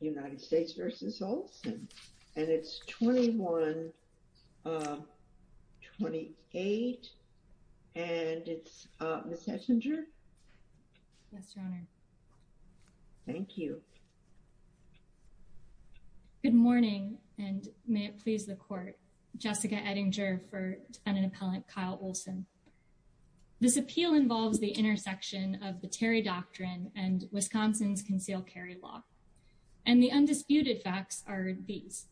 United States v. Olson and it's 21-28 and it's Ms. Ettinger. Yes, your honor. Thank you. Good morning and may it please the court. Jessica Ettinger for defendant appellant Kyle Olson. This appeal involves the intersection of the Terry Doctrine and Wisconsin's concealed carry law. And the undisputed facts are these.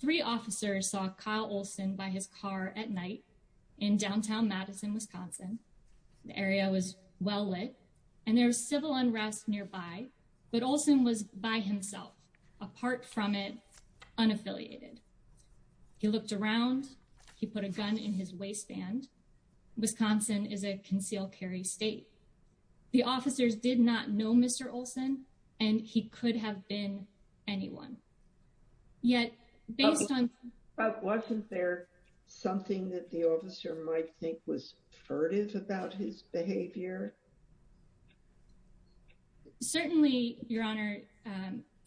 Three officers saw Kyle Olson by his car at night in downtown Madison, Wisconsin. The area was well lit and there was civil unrest nearby, but Olson was by himself apart from it unaffiliated. He looked around, he put a gun in his waistband. Wisconsin is a concealed carry state. The officers did not know Mr. Olson and he could have been anyone. Yet, based on... But wasn't there something that the officer might think was furtive about his behavior? Certainly, your honor.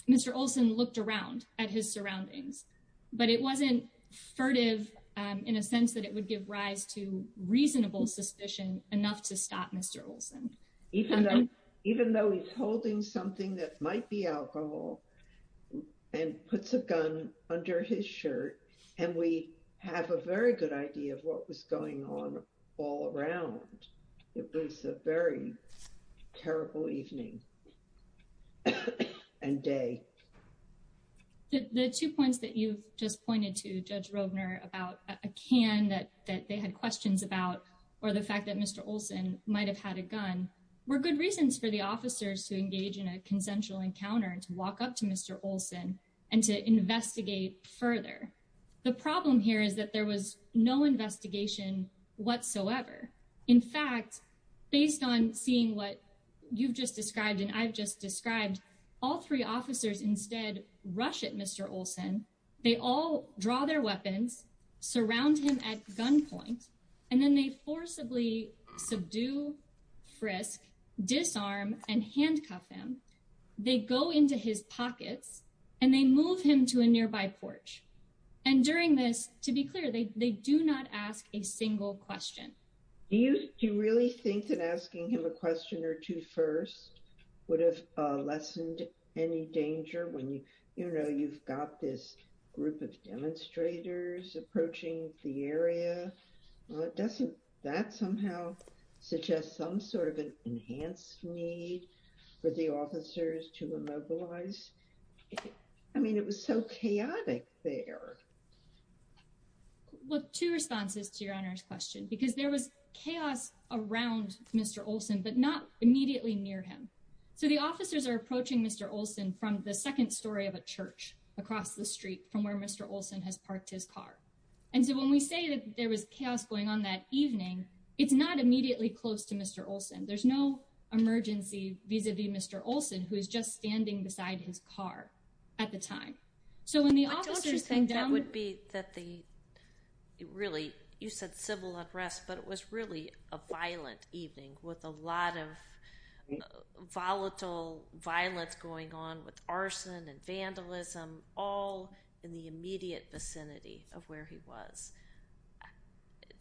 Mr. Olson looked around at his surroundings, but it wasn't furtive in a sense that it would give rise to reasonable suspicion enough to stop Mr. Olson. Even though he's holding something that might be alcohol and puts a gun under his shirt and we have a very good idea of what was going on all around. It was a very terrible evening and day. The two points that you've just pointed to, Judge Rogner, about a can that they had questions about or the fact that Mr. Olson might have had a gun, were good reasons for the officers to engage in a consensual encounter and to walk up to Mr. Olson and to investigate further. The problem here is that there was no investigation whatsoever. In fact, based on seeing what you've just described and I've just described, all three officers instead rush at Mr. Olson. They all draw their weapons, surround him at gunpoint, and then they forcibly subdue, frisk, disarm, and handcuff him. They go into his pockets and they move him to a nearby porch. And during this, to be clear, they do not ask a single question. Do you really think that asking him a question or two first would have lessened any of the chaos? I mean, it was so chaotic there. Well, two responses to Your Honor's question, because there was chaos around Mr. Olson, but not immediately near him. So the officers are approaching Mr. Olson from the second story of a church across the street from where Mr. Olson has parked his car. And so when we say that there was chaos going on that evening, it's not immediately close to Mr. Olson. There's no emergency vis-a-vis Mr. Olson, who is just standing beside his car at the time. But don't you think that would be that the really, you said civil unrest, but it was really a violent evening with a lot of volatile violence going on with arson and vandalism, all in the immediate vicinity of where he was.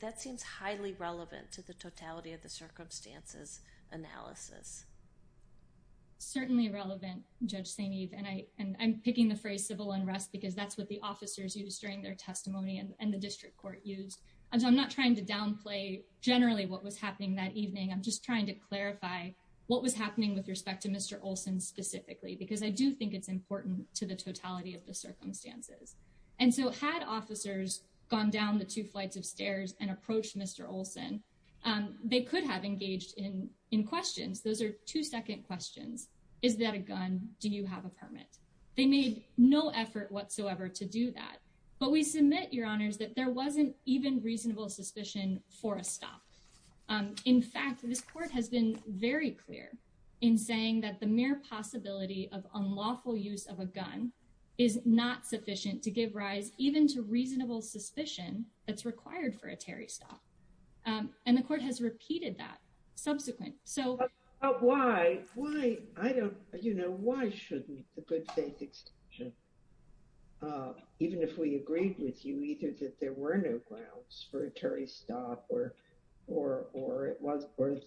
That seems highly relevant to the totality of the circumstances analysis. It's certainly relevant, Judge St. Eve, and I'm picking the phrase civil unrest because that's what the officers used during their testimony and the was happening that evening. I'm just trying to clarify what was happening with respect to Mr. Olson specifically, because I do think it's important to the totality of the circumstances. And so had officers gone down the two flights of stairs and approached Mr. Olson, they could have engaged in questions. Those are two second questions. Is that a gun? Do you have a permit? They made no effort whatsoever to do that. But we submit, Your Honors, that there wasn't even reasonable suspicion for a stop. In fact, this court has been very clear in saying that the mere possibility of unlawful use of a gun is not sufficient to give rise even to reasonable suspicion that's required for a Terry stop. And the court has repeated that subsequent. Why? Why? I don't, you know, why shouldn't the good faith extension, uh, even if we agreed with you, either that there were no grounds for a Terry stop or, or, or it was worth,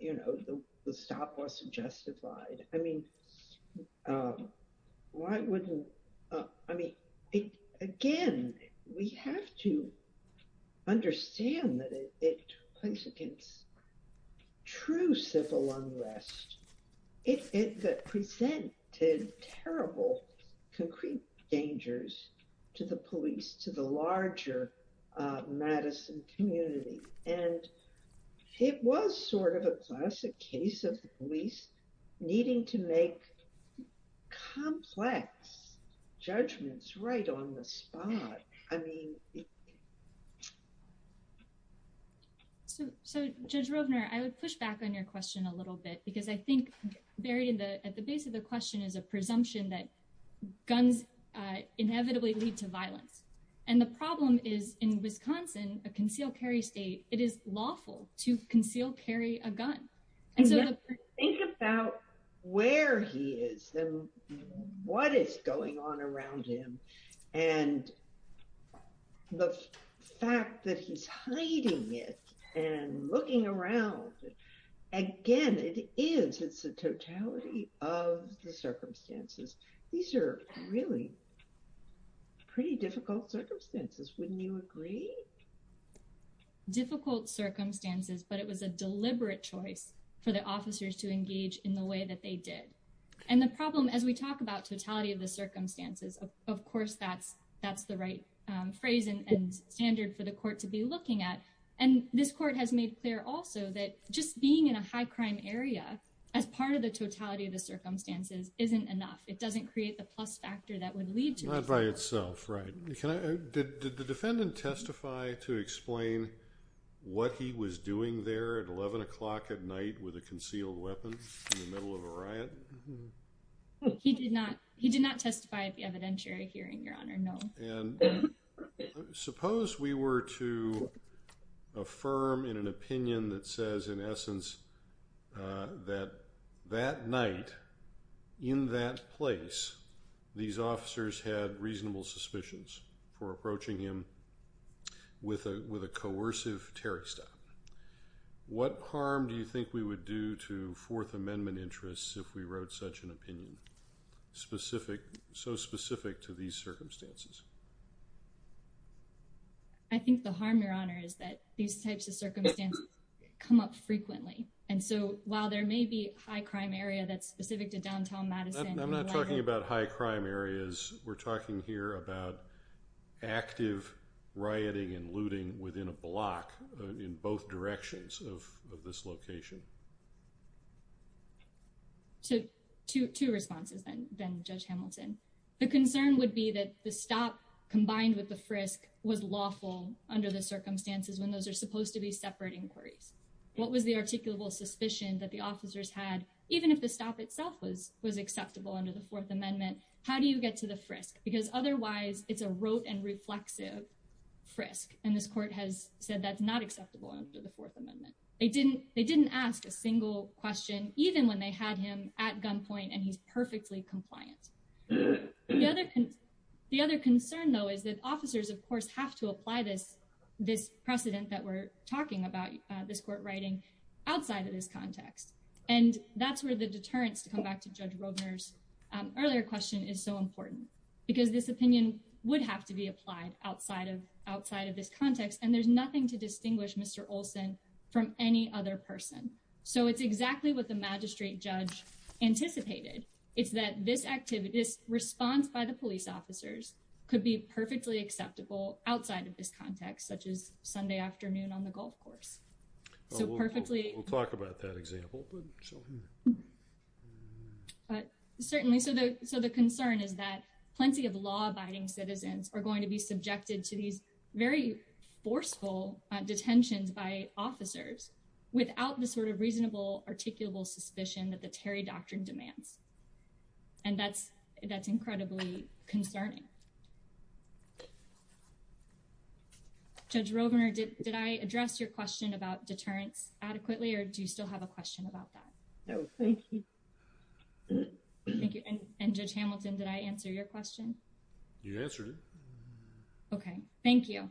you know, the stop wasn't justified. I mean, um, why wouldn't, uh, I mean, again, we have to understand that it points against true civil unrest. It presented terrible, concrete dangers to the police, to the larger, uh, Madison community. And it was sort of a classic case of the police needing to make complex judgments right on the spot. I mean, So, so judge Rovner, I would push back on your question a little bit, because I think buried in the, at the base of the question is a presumption that guns inevitably lead to violence. And the problem is in Wisconsin, a concealed carry state, it is lawful to conceal, carry a gun. And so think about where he is and what is going on around him and the fact that he's hiding it and looking around again, it is, it's a totality of the circumstances. These are really pretty difficult circumstances. Wouldn't you agree? Difficult circumstances, but it was a deliberate choice for the officers to engage in the way that they did. And the problem, as we talk about totality of the circumstances, of course, that's, that's the right phrase and standard for the court to be looking at. And this court has made clear also that just being in a high crime area as part of the totality of the circumstances isn't enough. It doesn't create the plus factor that would lead to violence. Can I, did the defendant testify to explain what he was doing there at 11 o'clock at night with a concealed weapon in the middle of a riot? He did not. He did not testify at the evidentiary hearing, Your Honor, no. And suppose we were to affirm in an opinion that says in essence that that night in that place, these officers had reasonable suspicions for approaching him with a, with a coercive Terry stop. What harm do you think we would do to Fourth Amendment interests if we wrote such an opinion specific, so specific to these circumstances? I think the harm, Your Honor, is that these types of circumstances come up frequently. And so while there may be high crime area that's specific to downtown Madison, I'm not talking about high crime areas. We're talking here about active rioting and looting within a block in both directions of this location. So two, two responses then, then Judge Hamilton, the concern would be that the stop combined with the frisk was lawful under the circumstances when those are supposed to be separate inquiries. What was the articulable suspicion that the officers had, even if the stop itself was, was acceptable under the Fourth Amendment, how do you get to the frisk? Because otherwise it's a rote and reflexive frisk. And this court has said that's not acceptable under the Fourth Amendment. They didn't, they didn't ask a single question, even when they had him at gunpoint and he's perfectly compliant. The other, the other concern though, is that officers, of course, have to apply this, this precedent that we're talking about, this court writing outside of this context. And that's where the deterrence to come back to Judge Robner's earlier question is so important because this opinion would have to be applied outside of, outside of this context. And there's nothing to distinguish Mr. Olson from any other person. So it's exactly what the magistrate judge anticipated. It's that this activity, this response by the police officers could be perfectly acceptable outside of this context, such as Sunday afternoon on the golf course. So perfectly. We'll talk about that example. But certainly, so the, so the concern is that plenty of law abiding citizens are going to be subjected to these very forceful detentions by officers without the sort of reasonable articulable suspicion that the Terry Doctrine demands. And that's, that's incredibly concerning. Judge Robner, did I address your question about deterrence adequately or do you still have a question about that? No, thank you. Thank you. And Judge Hamilton, did I answer your question? You answered it. Okay. Thank you.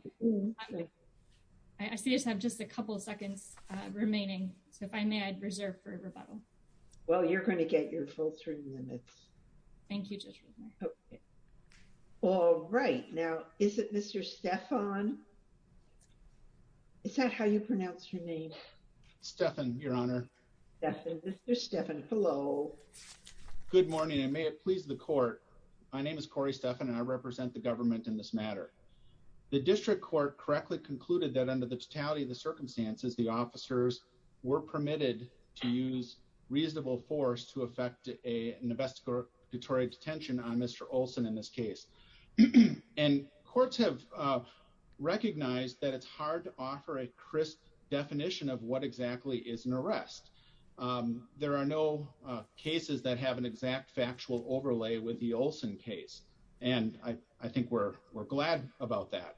I see us have just a couple of seconds remaining. So if I may, I'd reserve for rebuttal. Well, you're going to get your full three minutes. Thank you, Judge Robner. Okay. All right. Now, is it Mr. Stephan? Is that how you pronounce your name? Stephan, Your Honor. Stephan. Mr. Stephan. Hello. Good morning. And may it please the court. My name is Corey Stephan and I represent the government in this matter. The district court correctly concluded that under the totality of the circumstances, the officers were permitted to use reasonable force to affect a investigatory detention on Mr. Olson in this case. And courts have recognized that it's hard to offer a crisp definition of what exactly is an arrest. There are no cases that have an exact factual overlay with the Olson case. And I think we're glad about that.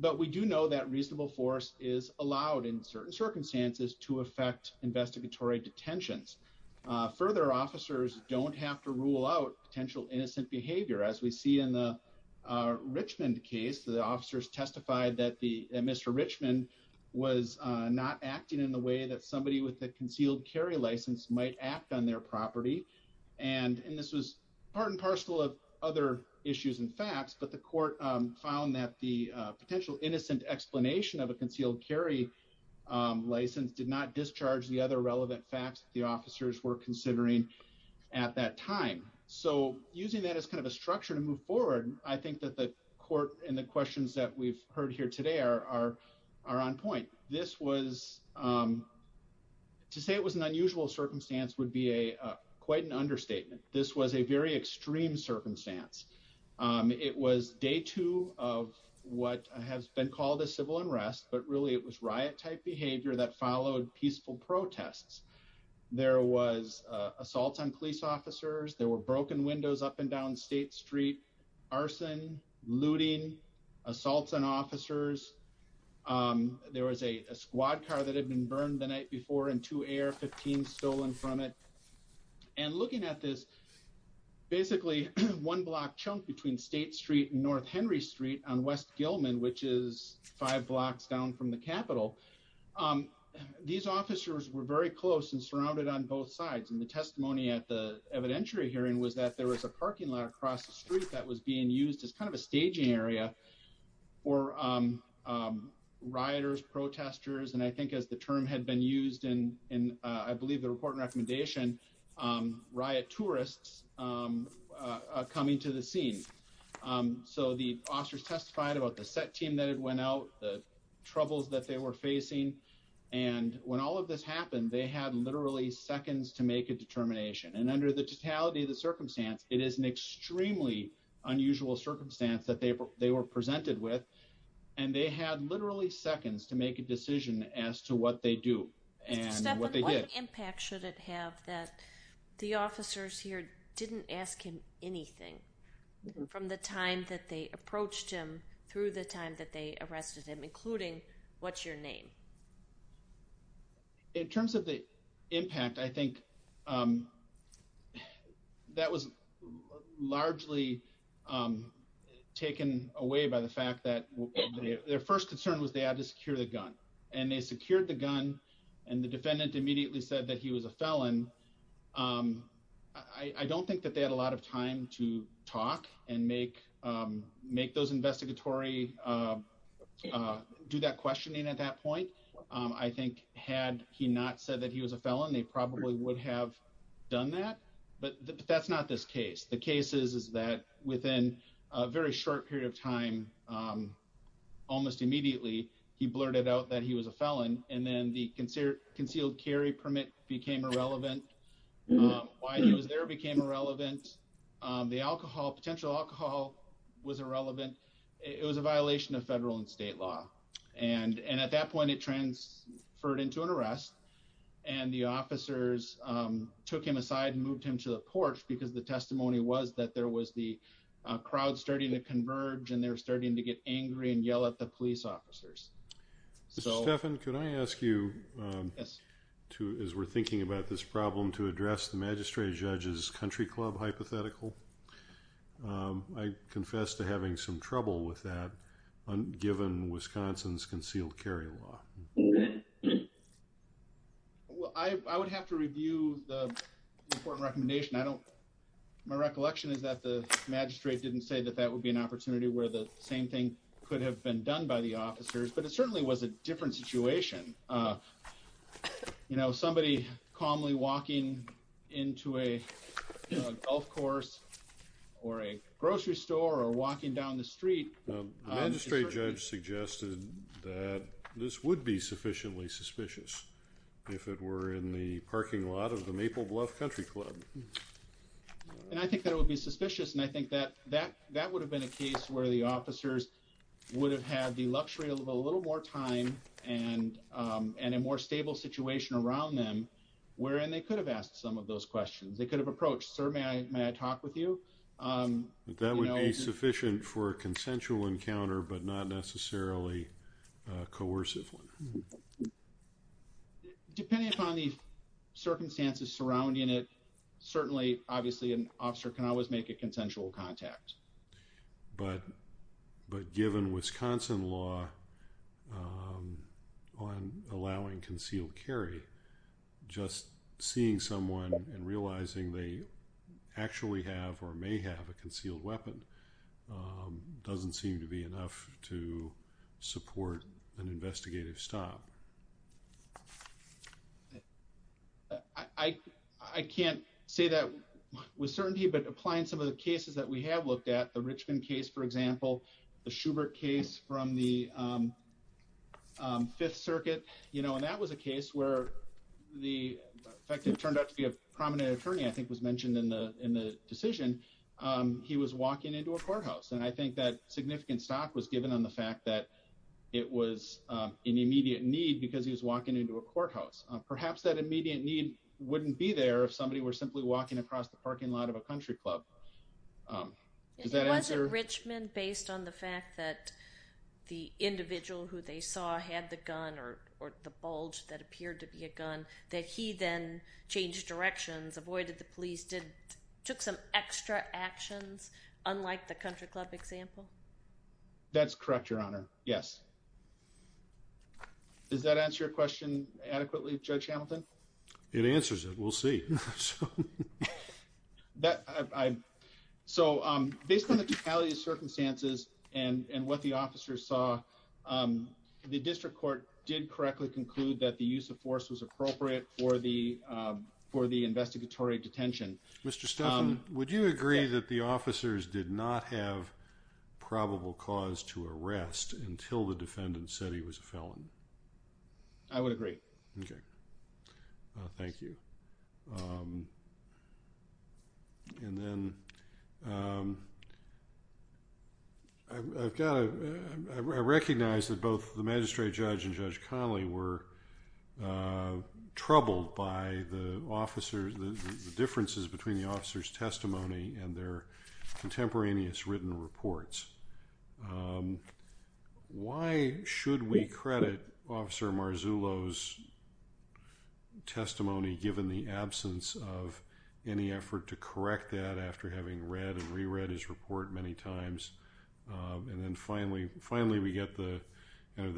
But we do know that reasonable force is allowed in certain circumstances to affect investigatory detentions. Further, officers don't have to rule out potential innocent behavior. As we see in the Richmond case, the officers testified that the Mr. Richmond was not acting in the way that somebody with the concealed carry license might act on their property. And this was part and parcel of other issues and facts. But the court found that the potential innocent explanation of a concealed carry license did not discharge the other relevant facts the officers were considering at that time. So using that as kind of a structure to move forward, I think that the court and the questions that we've heard here today are on point. This was, to say it was an unusual circumstance would be a quite an understatement. This was a very extreme circumstance. It was day two of what has been called a civil unrest, but really it was riot-type behavior that followed peaceful protests. There was assaults on police officers, there were broken windows up and down State Street, arson, looting, assaults on officers. There was a squad car that had been burned the night before and two AR-15s stolen from it. And looking at this, basically one block chunk between State Street and North Henry Street on West Gilman, which is five blocks down from the Capitol, these officers were very close and surrounded on both sides. And the testimony at the evidentiary hearing was that there was a parking lot across the street that was being used as kind of a staging area for rioters, protesters, and I think as the term had been used in I believe the report and recommendation, riot tourists coming to the scene. So the officers testified about the set team that had went out, the troubles that they were facing, and when all of this happened, they had literally seconds to make a determination. And under the totality of the circumstance, it is an extremely unusual circumstance that they were presented with, and they had literally seconds to make a decision as to what they do and what they did. What impact should it have that the officers here didn't ask him anything from the time that they approached him through the time that they arrested him, including what's your name? In terms of the impact, I think that was largely taken away by the fact that their first concern was they had to secure the gun, and they secured the gun, and the defendant immediately said that he was a felon. I don't think that they had a lot of time to talk and make those investigatory, do that questioning at that point. I think had he not said that he was a felon, they probably would have done that, but that's not this case. The case is that within a very short period of time, almost immediately, he blurted out that he was a felon, and then the concealed carry permit became irrelevant. Why he was there became irrelevant. The alcohol, potential alcohol, was irrelevant. It was a violation of federal and state law, and at that point, it transferred into an arrest, and the officers took him aside and moved him to the porch because the testimony was that there was the crowd starting to converge, and they're starting to get angry and yell at the police officers. Mr. Stephan, could I ask you, as we're thinking about this problem, to address the magistrate judge's country club hypothetical? I confess to having some trouble with that, given Wisconsin's concealed carry law. I would have to review the important recommendation. I don't, my recollection is that the magistrate didn't say that that would be an opportunity where the same thing could have been done by the officers, but it certainly was a different situation. You know, somebody calmly walking into a golf course, or a grocery store, or walking down the street. The magistrate judge suggested that this would be sufficiently suspicious if it were in the parking lot of the Maple Bluff Country Club. And I think that it would be suspicious, and I think that that would have been a case where the officers would have had the luxury of a little more time and a more stable situation around them, wherein they could have asked some of those questions. They could have approached, sir, may I talk with you? That would be sufficient for a consensual encounter, but not necessarily a coercive one. Depending upon the circumstances surrounding it, certainly, obviously, an officer can always make a consensual contact. But given Wisconsin law on allowing concealed carry, just seeing someone and realizing they actually have, or may have, a concealed weapon doesn't seem to be enough to support an investigative stop. I can't say that with certainty, but applying some of the cases that we have looked at, the Richmond case, for example, the Schubert case from the Fifth Circuit, you know, and that was a case where the fact that it turned out to be a prominent attorney, I think, was mentioned in the decision. He was walking into a courthouse, and I think that significant stop was given on the fact that it was an immediate need because he was walking into a courthouse. Perhaps that immediate need wouldn't be there if somebody were simply walking across the parking lot of a country club. Was it Richmond based on the fact that the individual who they saw had the gun, or the bulge that appeared to be a gun, that he then changed directions, avoided the police, took some extra actions, unlike the country club example? That's correct, Your Honor, yes. Does that answer your question adequately, Judge Hamilton? It answers it, we'll see. So, based on the totality of circumstances and what the officers saw, the district court did correctly conclude that the use of force was appropriate for the investigatory detention. Mr. Stephan, would you agree that the officers did not have probable cause to arrest until the defendant said he was a felon? I would agree. Thank you. And then, I've got to, I recognize that both the magistrate judge and Judge Connolly were troubled by the officers, the differences between the officers' testimony and their contemporaneous written reports. Why should we credit Officer Marzullo's testimony, given the absence of any effort to correct that after having read and re-read his report many times, and then finally, we get the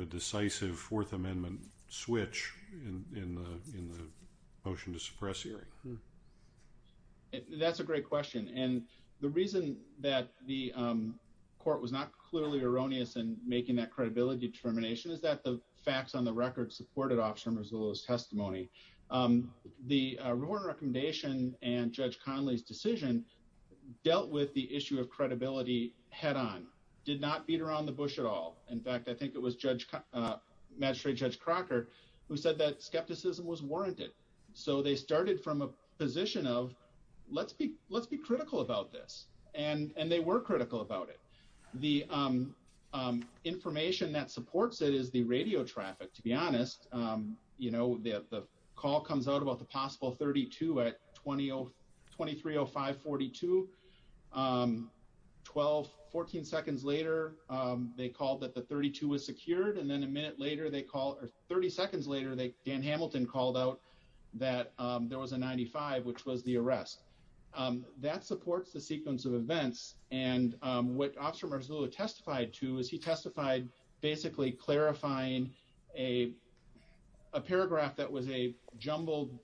decisive Fourth Amendment switch in the motion to suppress Erie? That's a great question, and the reason that the court was not clearly erroneous in making that credibility determination is that the facts on the record supported Officer Marzullo's testimony. The report and recommendation and Judge Connolly's decision dealt with the issue of credibility head-on, did not beat around the bush at all. In fact, I think it was Magistrate Judge Crocker who said that skepticism was warranted, so they started from a position of, let's be critical about this, and they were critical about it. The information that supports it is the radio traffic, to be honest. The call comes out about the possible 32 at 2305-42, 12, 14 seconds later, they called that the 32 was secured, and then a minute later, or 30 seconds later, Dan Hamilton called out that there was a 95, which was the arrest. That supports the sequence of events, and what Officer Marzullo testified to is he testified basically clarifying a paragraph that was a jumbled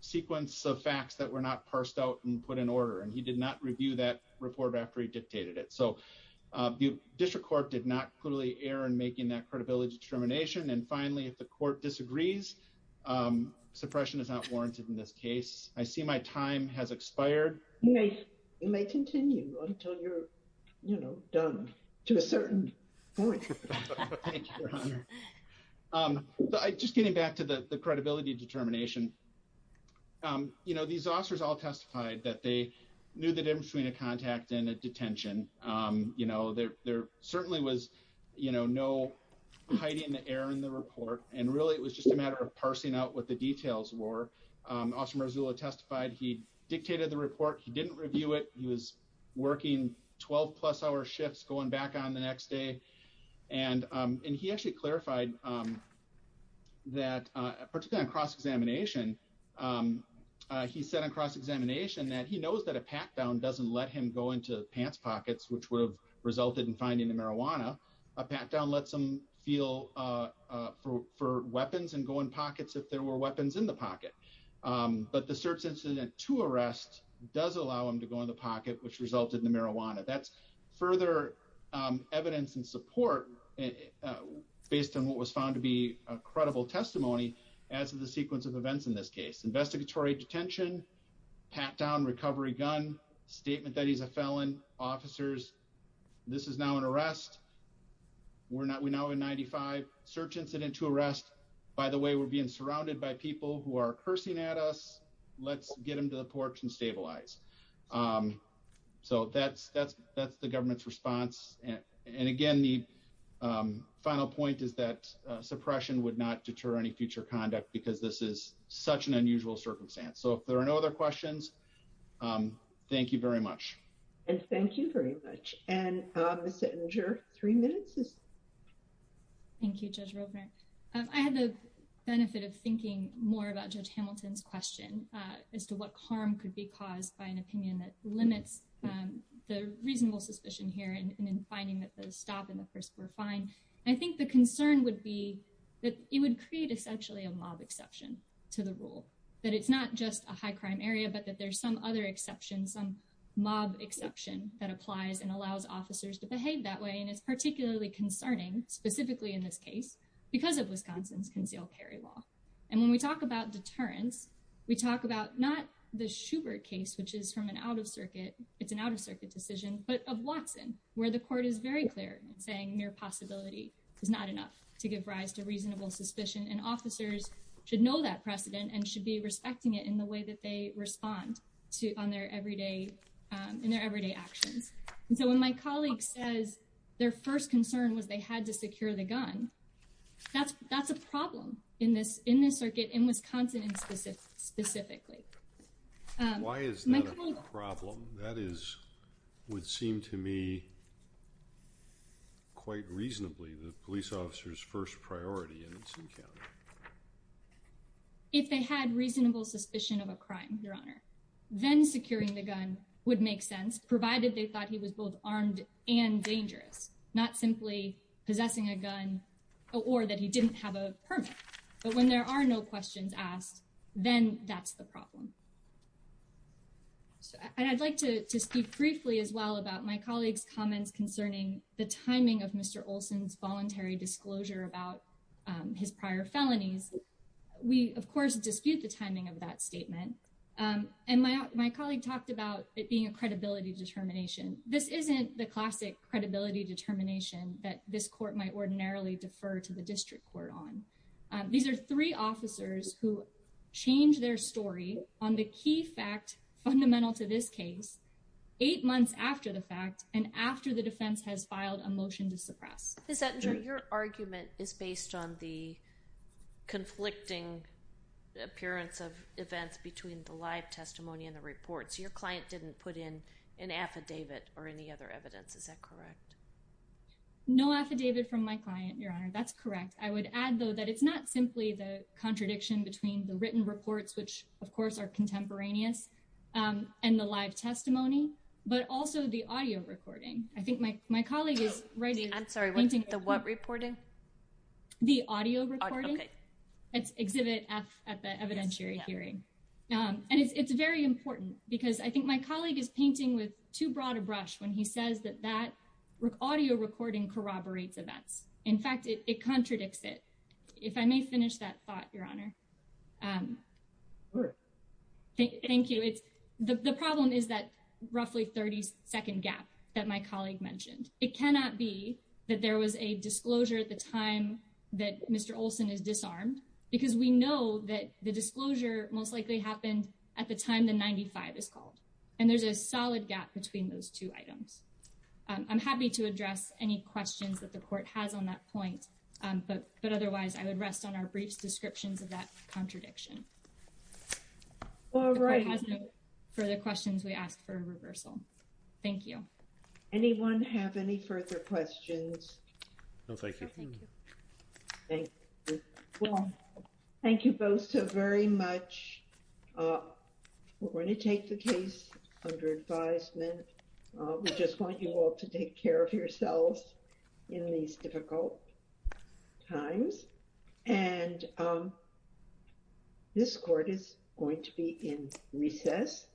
sequence of facts that were not parsed out and put in order, and he did not review that report after he dictated it, so the district court did not clearly err in making that credibility determination, and finally, if the court disagrees, suppression is not warranted in this case. I see my time has expired. You may continue until you're, you know, done to a certain point. Thank you, Your Honor. Just getting back to the credibility determination, you know, these officers all testified that they knew the difference between a contact and a detention. You know, there certainly was, you know, no hiding the error in the report, and really, it was just a matter of parsing out what the details were. Officer Marzullo testified he dictated the report. He didn't review it. He was working 12-plus hour shifts going back on the next day, and he actually clarified that, particularly on cross-examination, he said on cross-examination that he knows that a pat-down doesn't let him go into pants pockets, which would have resulted in finding the marijuana. A pat-down lets him feel for weapons and go in pockets if there were weapons in the pocket, but the search incident to arrest does allow him to go in the pocket, which resulted in the marijuana. That's further evidence and support and based on what was found to be a credible testimony as of the sequence of events in this case. Investigatory detention, pat-down, recovery gun, statement that he's a felon, officers, this is now an arrest. We're now in 95. Search incident to arrest. By the way, we're being surrounded by people who are cursing at us. Let's get them to the porch and stabilize. That's the government's response. Again, the final point is that suppression would not deter any future conduct because this is such an unusual circumstance. If there are no other questions, thank you very much. Thank you very much. Ms. Ettinger, three minutes. Thank you, Judge Ropener. I had the benefit of thinking more about Judge Hamilton's question as to what harm could be caused by an opinion that limits the reasonable suspicion here and in finding that the stop and the first were fine. I think the concern would be that it would create essentially a mob exception to the rule, that it's not just a high crime area, but that there's some other exception, some mob exception that applies and allows officers to behave that way. It's particularly concerning specifically in this case because of Wisconsin's concealed carry law. When we talk about deterrence, we talk about not the Schubert case, which is from an out-of-circuit, it's an out-of-circuit decision, but of Watson, where the court is very clear in saying mere possibility is not enough to give rise to reasonable suspicion. Officers should know that precedent and should be respecting it in the way that they respond in their everyday actions. When my colleague says their first concern was they had to secure the gun, that's a problem in this circuit, in Wisconsin specifically. Why is that a problem? That is, would seem to me quite reasonably the police officer's first priority in this encounter. If they had reasonable suspicion of a crime, Your Honor, then securing the gun would make sense, provided they thought he was both armed and dangerous, not simply possessing a gun or that he didn't have a permit. But when there are no questions asked, then that's the problem. I'd like to speak briefly as well about my colleague's comments concerning the timing of Mr. Olson's voluntary disclosure about his prior felonies. We, of course, dispute the timing of determination. This isn't the classic credibility determination that this court might ordinarily defer to the district court on. These are three officers who change their story on the key fact fundamental to this case eight months after the fact and after the defense has filed a motion to suppress. Ms. Ettinger, your argument is based on the conflicting appearance of events between the live testimony and the reports. Your client didn't put in an affidavit or any other evidence. Is that correct? No affidavit from my client, Your Honor. That's correct. I would add, though, that it's not simply the contradiction between the written reports, which of course are contemporaneous, and the live testimony, but also the audio recording. I think my colleague is writing. I'm sorry, the what reporting? The audio recording. It's exhibit F at the evidentiary hearing. And it's very important because I think my colleague is painting with too broad a brush when he says that that audio recording corroborates events. In fact, it contradicts it. If I may finish that thought, Your Honor. Thank you. It's the problem is that roughly 30 second gap that my colleague mentioned. It cannot be that there was a disclosure at the time that Mr. Olson is disarmed because we know that the disclosure most likely happened at the time the 95 is called. And there's a solid gap between those two items. I'm happy to address any questions that the court has on that point, but otherwise I would rest on our briefs descriptions of that contradiction. All right. For the questions we asked for a reversal. Thank you. Anyone have any further questions? No, thank you. Thank you. Well, thank you both so very much. We're going to take the case under advisement. We just want you all to take care of yourselves in these difficult times. And this court is going to be in recess.